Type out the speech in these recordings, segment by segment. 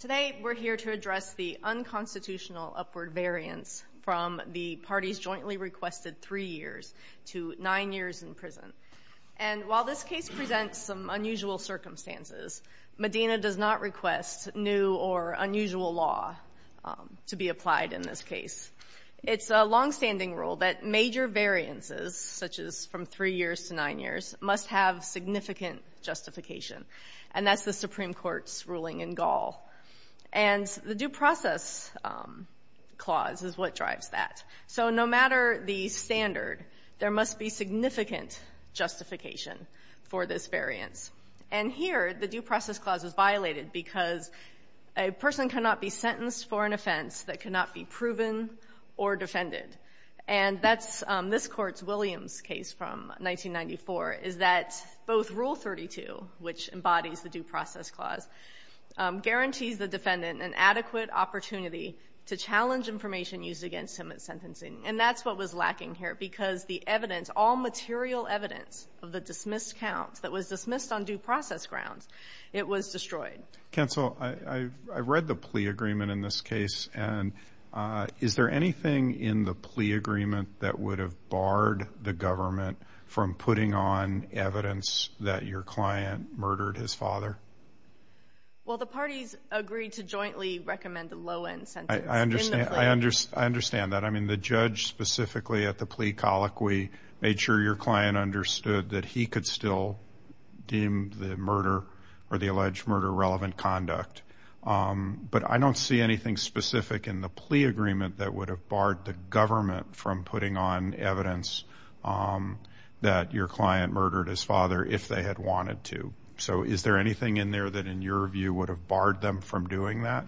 Today, we're here to address the unconstitutional upward variance from the parties jointly requested three years to nine years in prison. And while this case presents some unusual circumstances, Medina does not request new or unusual law to be applied in this case. It's a longstanding rule that major variances, such as from three years to nine years, must have significant justification, and that's the Supreme Court's ruling in Gall. And the due process clause is what drives that. So no matter the standard, there must be significant justification for this variance. And here, the due process clause is violated because a person cannot be sentenced for an offense that cannot be proven or defended. And that's this Court's Williams case from 1994, is that both Rule 32, which embodies the due process clause, guarantees the defendant an adequate opportunity to challenge information used against him at sentencing. And that's what was lacking here, because the evidence, all material evidence of the dismissed counts that was dismissed on due process grounds, it was destroyed. Counsel, I've read the plea agreement in this case, and is there anything in the plea agreement that would have barred the government from putting on evidence that your client murdered his father? Well, the parties agreed to jointly recommend a low-end sentence in the plea. I understand that. I mean, the judge specifically at the plea colloquy made sure your client understood that he could still deem the murder or the alleged murder relevant conduct. But I don't see anything specific in the plea agreement that would have barred the government from putting on evidence that your client murdered his father if they had wanted to. So is there anything in there that, in your view, would have barred them from doing that,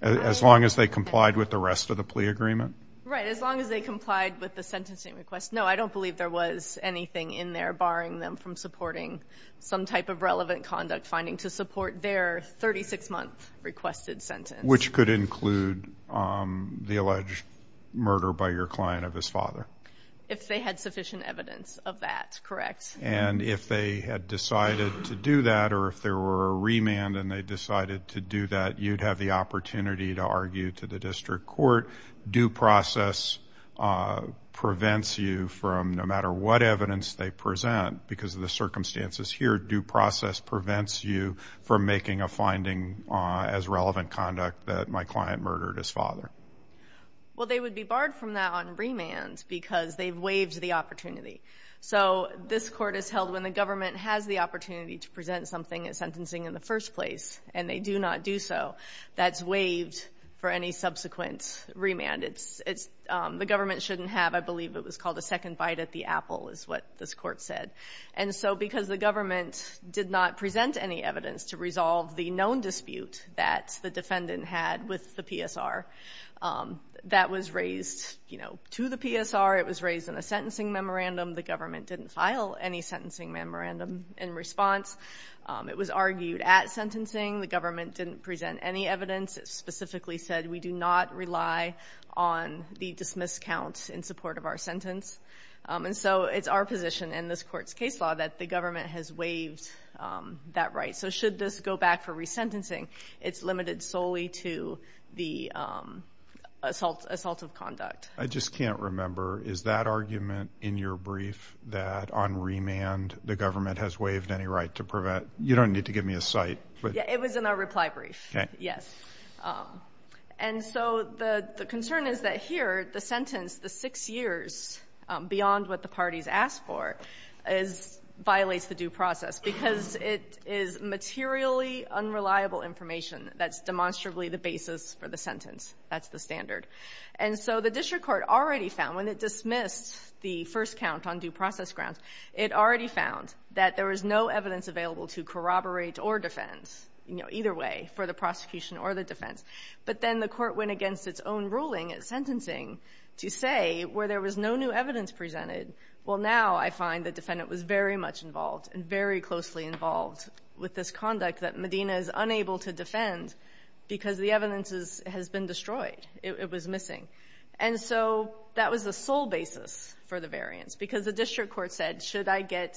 as long as they complied with the rest of the plea agreement? Right. As long as they complied with the sentencing request. No, I don't believe there was anything in there barring them from supporting some type of relevant conduct finding to support their 36-month requested sentence. Which could include the alleged murder by your client of his father. If they had sufficient evidence of that, correct. And if they had decided to do that, or if there were a remand and they decided to do that, you'd have the opportunity to argue to the district court. Due process prevents you from, no matter what evidence they present, because of the circumstances here, due process prevents you from making a finding as relevant conduct that my client murdered his father. Well, they would be barred from that on remand because they've waived the So this Court has held when the government has the opportunity to present something at sentencing in the first place, and they do not do so, that's waived for any subsequent remand. It's, it's, the government shouldn't have, I believe it was called a second bite at the apple, is what this Court said. And so, because the government did not present any evidence to resolve the known dispute that the defendant had with the PSR, that was raised, you know, to the PSR. It was raised in a sentencing memorandum. The government didn't file any sentencing memorandum in response. It was argued at sentencing. The government didn't present any evidence. It specifically said, we do not rely on the dismiss counts in support of our sentence. And so, it's our position in this Court's case law that the government has waived that right. So, should this go back for resentencing, it's limited solely to the assault, assault of conduct. I just can't remember, is that argument in your brief that on remand, the government has waived any right to prevent, you don't need to give me a site, but. Yeah, it was in our reply brief. Okay. Yes. And so, the, the concern is that here, the sentence, the six years, beyond what the parties asked for, is, violates the due process, because it is materially unreliable information that's demonstrably the basis for the sentence. That's the standard. And so, the district court already found, when it dismissed the first count on due process grounds, it already found that there was no evidence available to corroborate or defend, you know, either way, for the prosecution or the defense. But then, the court went against its own ruling at sentencing to say, where there was no new evidence presented, well, now I find the defendant was very much involved and very closely involved with this conduct that Medina is unable to defend, because the evidence is, has been destroyed. It was missing. And so, that was the sole basis for the variance, because the district court said, should I get,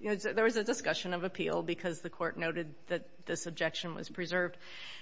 you know, there was a discussion of appeal, because the court noted that this objection was preserved,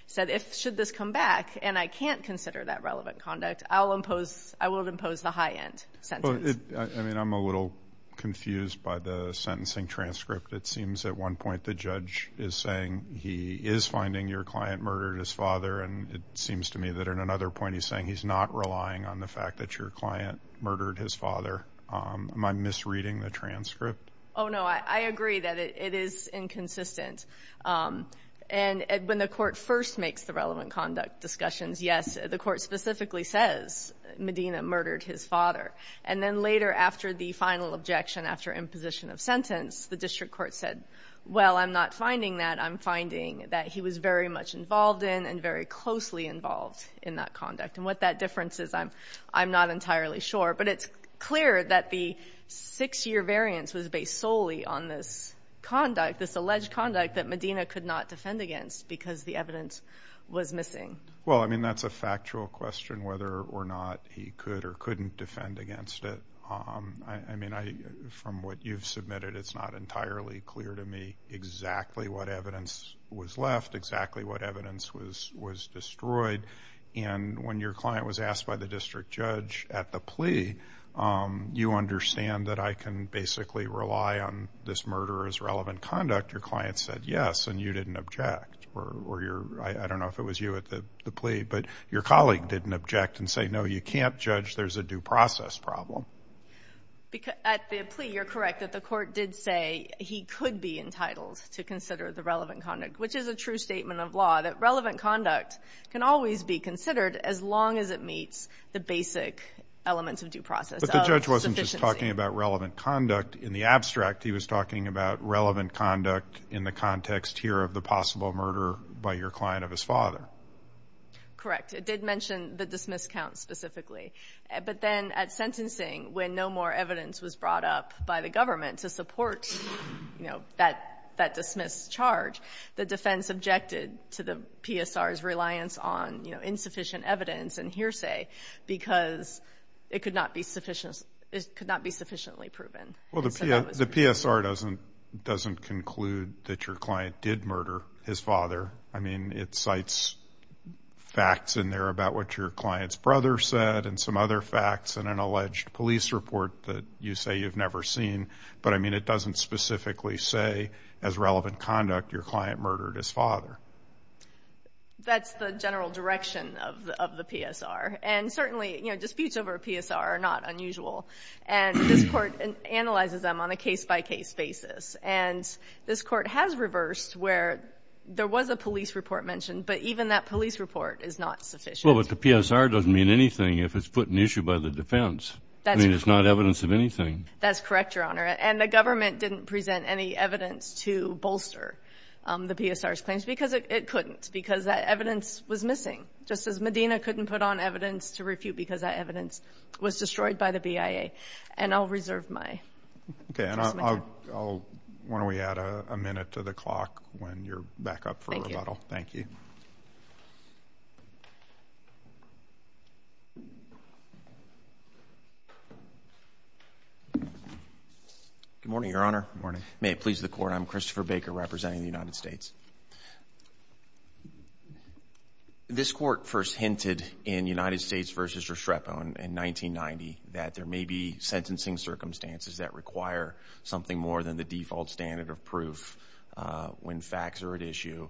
said, if, should this come back, and I can't consider that relevant conduct, I'll impose, I will impose the high end sentence. But it, I mean, I'm a little confused by the sentencing transcript. It seems at one point the judge is saying he is finding your client murdered his father, at another point he's saying he's not relying on the fact that your client murdered his father, am I misreading the transcript? Oh, no, I, I agree that it, it is inconsistent, and when the court first makes the relevant conduct discussions, yes, the court specifically says Medina murdered his father, and then later, after the final objection, after imposition of sentence, the district court said, well, I'm not finding that, I'm finding that he was very much involved in, and very closely involved in that conduct. And what that difference is, I'm, I'm not entirely sure. But it's clear that the six-year variance was based solely on this conduct, this alleged conduct, that Medina could not defend against, because the evidence was missing. Well, I mean, that's a factual question, whether or not he could or couldn't defend against it. I, I mean, I, from what you've submitted, it's not entirely clear to me exactly what evidence was left, exactly what evidence was, was destroyed. And when your client was asked by the district judge at the plea, you understand that I can basically rely on this murderer's relevant conduct. Your client said yes, and you didn't object, or, or your, I, I don't know if it was you at the, the plea, but your colleague didn't object and say, no, you can't judge, there's a due process problem. Because, at the plea, you're correct that the court did say he could be entitled to consider the relevant conduct, which is a true statement of law, that relevant conduct can always be considered as long as it meets the basic elements of due process. But the judge wasn't just talking about relevant conduct in the abstract. He was talking about relevant conduct in the context here of the possible murder by your client of his father. Correct. It did mention the dismiss count specifically. But then at sentencing, when no more evidence was brought up by the government to support, you know, that, that dismissed charge, the defense objected to the PSR's reliance on, you know, insufficient evidence and hearsay because it could not be sufficient, it could not be sufficiently proven. Well, the PSR doesn't, doesn't conclude that your client did murder his father. I mean, it cites facts in there about what your client's brother said and some other police report that you say you've never seen. But I mean, it doesn't specifically say as relevant conduct your client murdered his father. That's the general direction of the PSR. And certainly, you know, disputes over a PSR are not unusual. And this court analyzes them on a case-by-case basis. And this court has reversed where there was a police report mentioned, but even that police report is not sufficient. Well, but the PSR doesn't mean anything if it's put in issue by the defense. That's correct. I mean, it's not evidence of anything. That's correct, Your Honor. And the government didn't present any evidence to bolster the PSR's claims because it couldn't, because that evidence was missing, just as Medina couldn't put on evidence to refute because that evidence was destroyed by the BIA. And I'll reserve my time. Okay. And I'll, I'll, why don't we add a minute to the clock when you're back up for a rebuttal. Thank you. Thank you. Thank you. Good morning, Your Honor. Good morning. May it please the Court, I'm Christopher Baker representing the United States. This court first hinted in United States v. Estrepo in 1990 that there may be sentencing circumstances that require something more than the default standard of proof when facts are at issue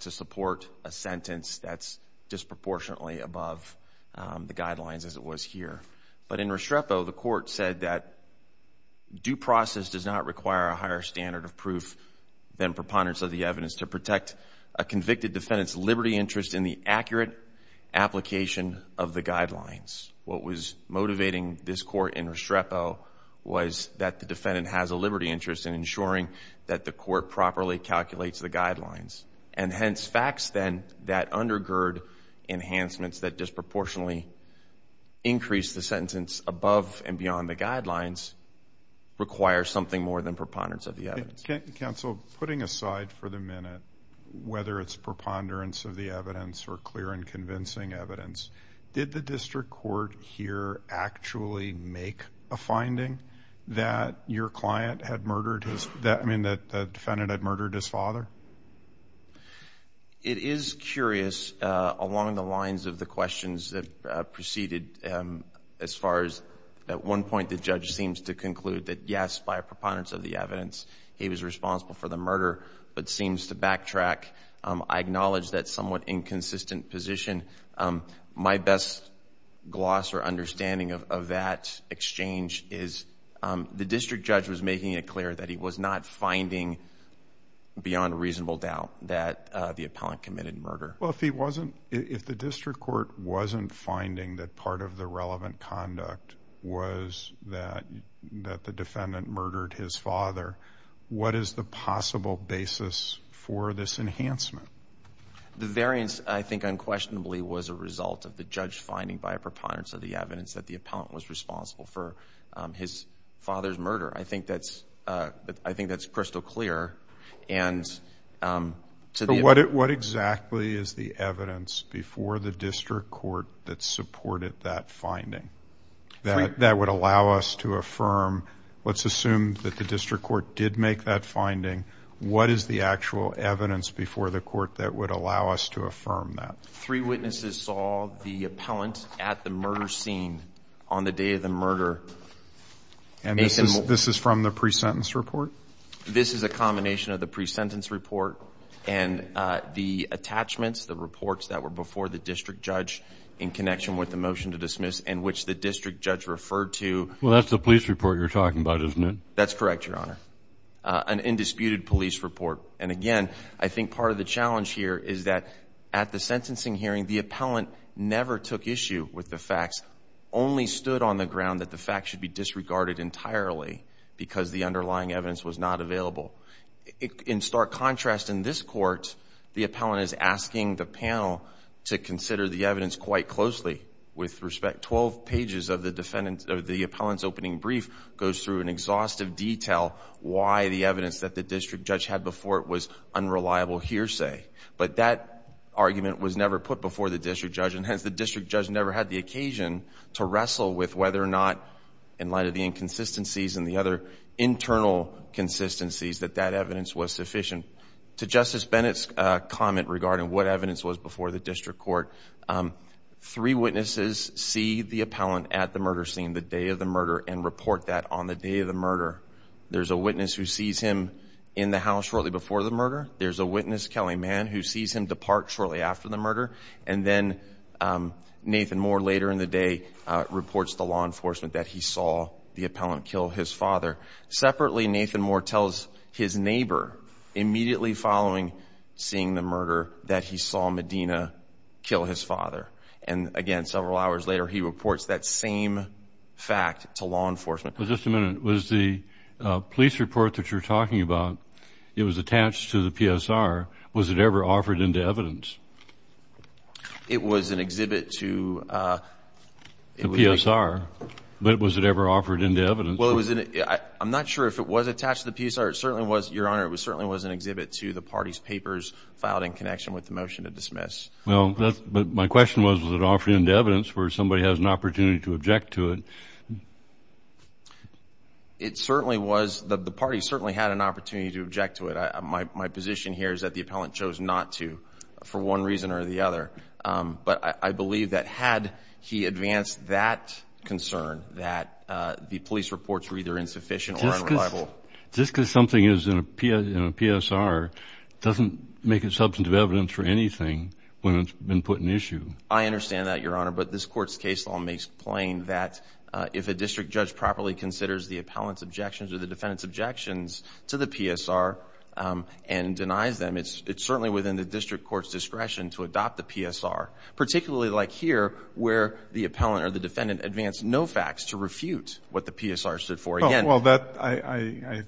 to support a sentence that's disproportionately above the guidelines as it was here. But in Estrepo, the court said that due process does not require a higher standard of proof than preponderance of the evidence to protect a convicted defendant's liberty interest in the accurate application of the guidelines. What was motivating this court in Estrepo was that the defendant has a liberty interest in ensuring that the court properly calculates the guidelines. And hence, facts then that undergird enhancements that disproportionately increase the sentence above and beyond the guidelines require something more than preponderance of the evidence. Counsel, putting aside for the minute whether it's preponderance of the evidence or clear and convincing evidence, did the district court here actually make a finding that your defendant had murdered his father? It is curious along the lines of the questions that preceded as far as at one point the judge seems to conclude that yes, by preponderance of the evidence, he was responsible for the murder but seems to backtrack. I acknowledge that somewhat inconsistent position. My best gloss or understanding of that exchange is the district judge was making it clear that he was not finding beyond reasonable doubt that the appellant committed murder. Well, if he wasn't, if the district court wasn't finding that part of the relevant conduct was that the defendant murdered his father, what is the possible basis for this enhancement? The variance, I think unquestionably, was a result of the judge finding by a preponderance of the evidence that the appellant was responsible for his father's murder. I think that's crystal clear. What exactly is the evidence before the district court that supported that finding that would allow us to affirm, let's assume that the district court did make that finding, what is the actual evidence before the court that would allow us to affirm that? Three witnesses saw the appellant at the murder scene on the day of the murder. And this is from the pre-sentence report? This is a combination of the pre-sentence report and the attachments, the reports that were before the district judge in connection with the motion to dismiss in which the district judge referred to. Well, that's the police report you're talking about, isn't it? That's correct, Your Honor, an indisputed police report. And again, I think part of the challenge here is that at the sentencing hearing, the appellant never took issue with the facts, only stood on the ground that the facts should be disregarded entirely because the underlying evidence was not available. In stark contrast, in this court, the appellant is asking the panel to consider the evidence quite closely with respect, 12 pages of the defendant, of the appellant's opening brief goes through an exhaustive detail why the evidence that the district judge had before it was unreliable hearsay. But that argument was never put before the district judge and hence the district judge never had the occasion to wrestle with whether or not, in light of the inconsistencies and the other internal consistencies, that that evidence was sufficient. To Justice Bennett's comment regarding what evidence was before the district court, three witnesses see the appellant at the murder scene the day of the murder and report that on the day of the murder. There's a witness who sees him in the house shortly before the murder. There's a witness, Kelly Mann, who sees him depart shortly after the murder. And then Nathan Moore, later in the day, reports to law enforcement that he saw the appellant kill his father. Separately, Nathan Moore tells his neighbor, immediately following seeing the murder, that he saw Medina kill his father. And again, several hours later, he reports that same fact to law enforcement. Well, just a minute. Was the police report that you're talking about, it was attached to the PSR, was it ever offered into evidence? It was an exhibit to the PSR. But was it ever offered into evidence? Well, it was in it. I'm not sure if it was attached to the PSR. It certainly was, Your Honor. It certainly was an exhibit to the party's papers filed in connection with the motion to dismiss. Well, that's, but my question was, was it offered into evidence where somebody has an It certainly was. The party certainly had an opportunity to object to it. My position here is that the appellant chose not to, for one reason or the other. But I believe that had he advanced that concern, that the police reports were either insufficient or unreliable. Just because something is in a PSR doesn't make it substantive evidence for anything when it's been put in issue. I understand that, Your Honor. But this Court's case law makes plain that if a district judge properly considers the appellant's objections or the defendant's objections to the PSR and denies them, it's certainly within the district court's discretion to adopt the PSR. Particularly like here, where the appellant or the defendant advanced no facts to refute what the PSR stood for. Well, I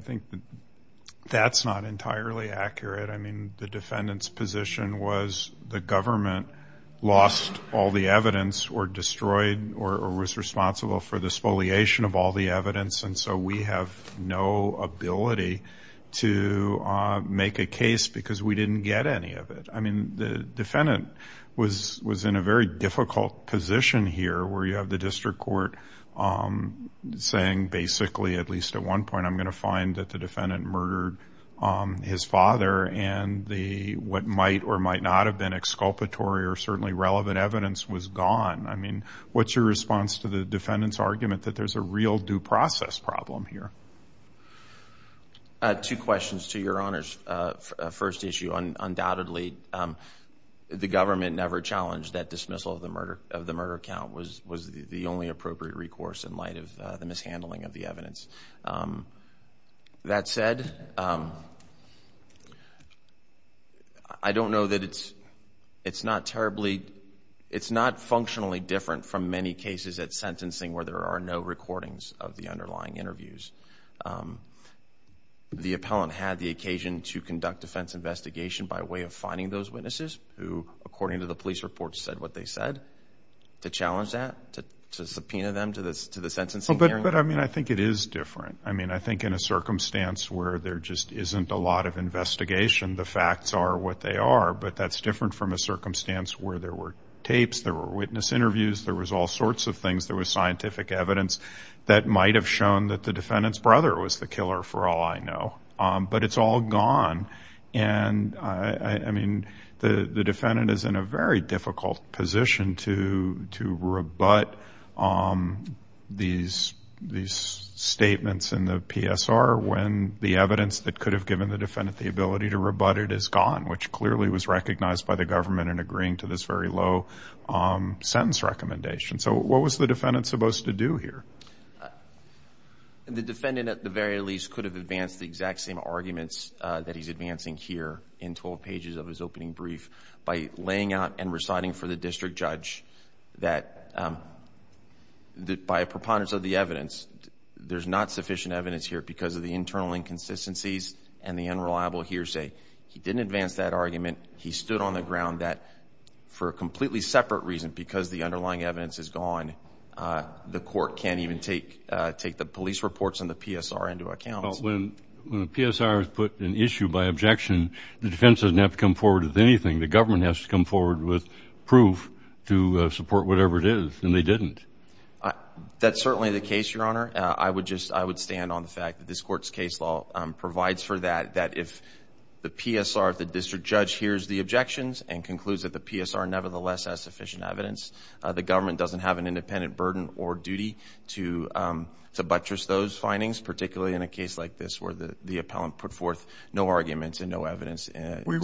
think that's not entirely accurate. I mean, the defendant's position was the government lost all the evidence or destroyed or was responsible for the spoliation of all the evidence. And so we have no ability to make a case because we didn't get any of it. I mean, the defendant was in a very difficult position here, where you have the district court saying basically, at least at one point, I'm going to find that the defendant murdered his father and what might or might not have been exculpatory or certainly relevant evidence was gone. I mean, what's your response to the defendant's argument that there's a real due process problem here? Two questions to Your Honor's first issue. Undoubtedly, the government never challenged that dismissal of the murder count was the only appropriate recourse in light of the mishandling of the evidence. That said, I don't know that it's not terribly, it's not functionally different from many cases at sentencing where there are no recordings of the underlying interviews. The appellant had the occasion to conduct defense investigation by way of finding those witnesses who, according to the police reports, said what they said. To challenge that, to subpoena them to the sentencing hearing? But I mean, I think it is different. I mean, I think in a circumstance where there just isn't a lot of investigation, the facts are what they are. But that's different from a circumstance where there were tapes, there were witness interviews, there was all sorts of things, there was scientific evidence that might have shown that the defendant's brother was the killer for all I know. But it's all gone. And I mean, the defendant is in a very difficult position to rebut these statements in the PSR when the evidence that could have given the defendant the ability to rebut it is gone, which clearly was recognized by the government in agreeing to this very low sentence recommendation. So what was the defendant supposed to do here? The defendant, at the very least, could have advanced the exact same arguments that he's advancing here in 12 pages of his opening brief by laying out and reciting for the district judge that by a preponderance of the evidence, there's not sufficient evidence here because of the internal inconsistencies and the unreliable hearsay. He didn't advance that argument. He stood on the ground that for a completely separate reason, because the underlying evidence is gone, the court can't even take the police reports and the PSR into account. Well, when the PSR has put an issue by objection, the defense doesn't have to come forward with anything. The government has to come forward with proof to support whatever it is, and they didn't. That's certainly the case, Your Honor. I would just, I would stand on the fact that this court's case law provides for that, that if the PSR, if the district judge hears the objections and concludes that the PSR nevertheless has sufficient evidence, the government doesn't have an independent burden or duty to buttress those findings, particularly in a case like this where the appellant put forth no arguments and no evidence. If we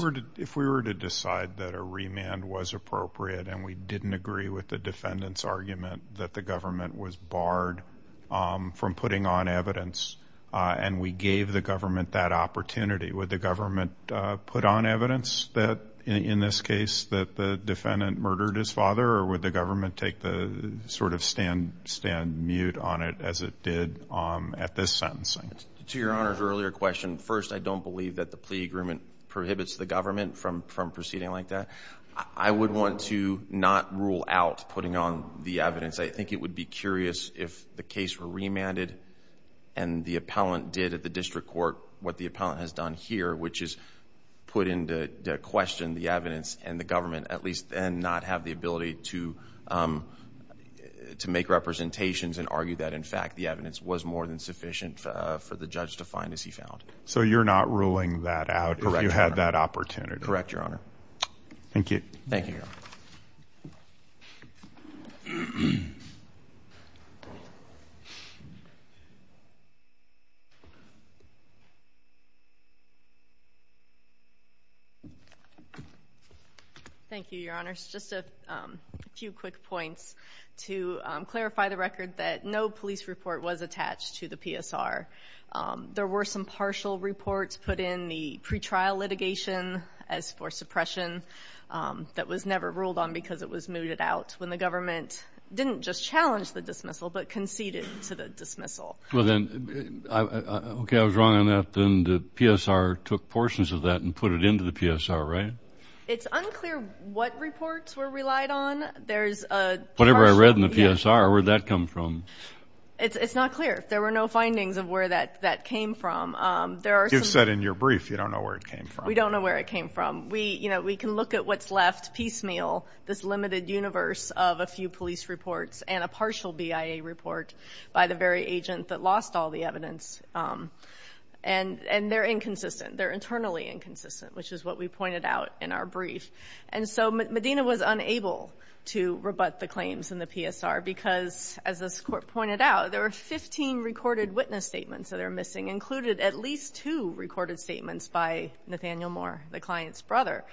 were to decide that a remand was appropriate and we didn't agree with the defendant's argument that the government was barred from putting on evidence and we gave the government that opportunity, would the government put on evidence that, in this case, that the defendant murdered his father, or would the government take the sort of stand mute on it as it did at this sentencing? To Your Honor's earlier question, first, I don't believe that the plea agreement prohibits the government from proceeding like that. I would want to not rule out putting on the evidence. I think it would be curious if the case were remanded and the appellant did at the district court what the appellant has done here, which is put into question the evidence and the ability to make representations and argue that, in fact, the evidence was more than sufficient for the judge to find, as he found. So you're not ruling that out if you had that opportunity? Correct, Your Honor. Thank you. Thank you, Your Honor. Thank you, Your Honors. Just a few quick points to clarify the record that no police report was attached to the PSR. There were some partial reports put in the pretrial litigation as for suppression that was never ruled on because it was mooted out when the government didn't just challenge the dismissal but conceded to the dismissal. Well, then, okay, I was wrong on that, then the PSR took portions of that and put it into the PSR, right? It's unclear what reports were relied on. There's a... Whatever I read in the PSR, where'd that come from? It's not clear. There were no findings of where that came from. There are some... You've said in your brief you don't know where it came from. We don't know where it came from. We can look at what's left piecemeal, this limited universe of a few police reports and a partial BIA report by the very agent that lost all the evidence, and they're inconsistent. They're internally inconsistent, which is what we pointed out in our brief. And so Medina was unable to rebut the claims in the PSR because, as this Court pointed out, there were 15 recorded witness statements that are missing, included at least two recorded statements by Nathaniel Moore, the client's brother.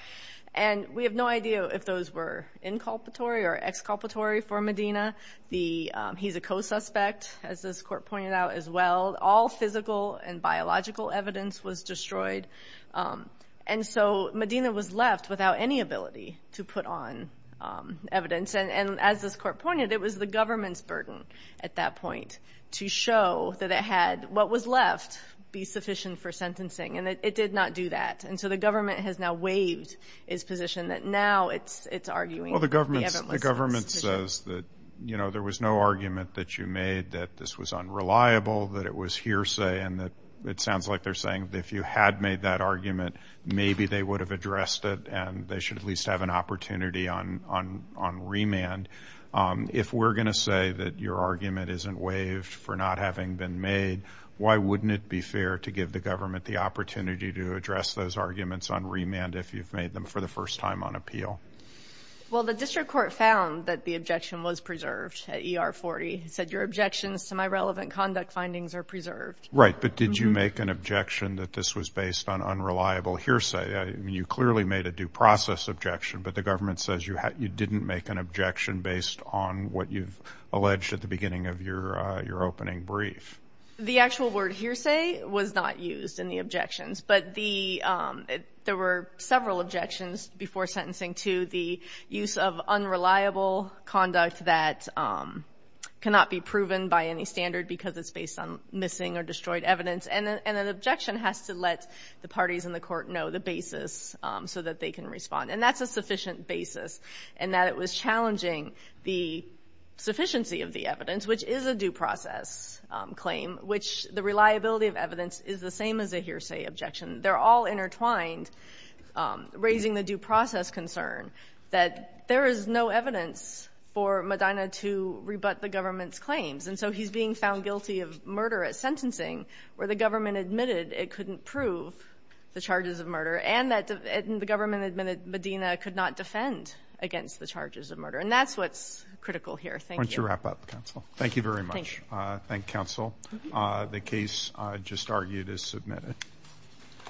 And we have no idea if those were inculpatory or exculpatory for Medina. He's a co-suspect, as this Court pointed out as well. All physical and biological evidence was destroyed. And so Medina was left without any ability to put on evidence. And as this Court pointed, it was the government's burden at that point to show that it had what was left be sufficient for sentencing. And it did not do that. And so the government has now waived its position that now it's arguing that we haven't listened. Well, the government says that there was no argument that you made that this was unreliable, that it was hearsay, and that it sounds like they're saying that if you had made that argument, maybe they would have addressed it and they should at least have an opportunity on remand. If we're going to say that your argument isn't waived for not having been made, why wouldn't it be fair to give the government the opportunity to address those arguments on remand if you've made them for the first time on appeal? Well, the District Court found that the objection was preserved at ER 40. It said your objections to my relevant conduct findings are preserved. Right, but did you make an objection that this was based on unreliable hearsay? You clearly made a due process objection, but the government says you didn't make an objection based on what you've alleged at the beginning of your opening brief. The actual word hearsay was not used in the objections, but there were several objections before sentencing to the use of unreliable conduct that cannot be proven by any standard because it's based on missing or destroyed evidence, and an objection has to let the parties in the court know the basis so that they can respond. And that's a sufficient basis in that it was challenging the sufficiency of the evidence, which is a due process claim, which the reliability of evidence is the same as a hearsay objection. They're all intertwined, raising the due process concern that there is no evidence for Medina to rebut the government's claims. And so he's being found guilty of murder at sentencing where the government admitted it couldn't prove the charges of murder and that the government admitted Medina could not defend against the charges of murder. And that's what's critical here. Thank you. Why don't you wrap up, counsel? Thank you very much. Thank you. Thank you, counsel. The case just argued is submitted. Thank you.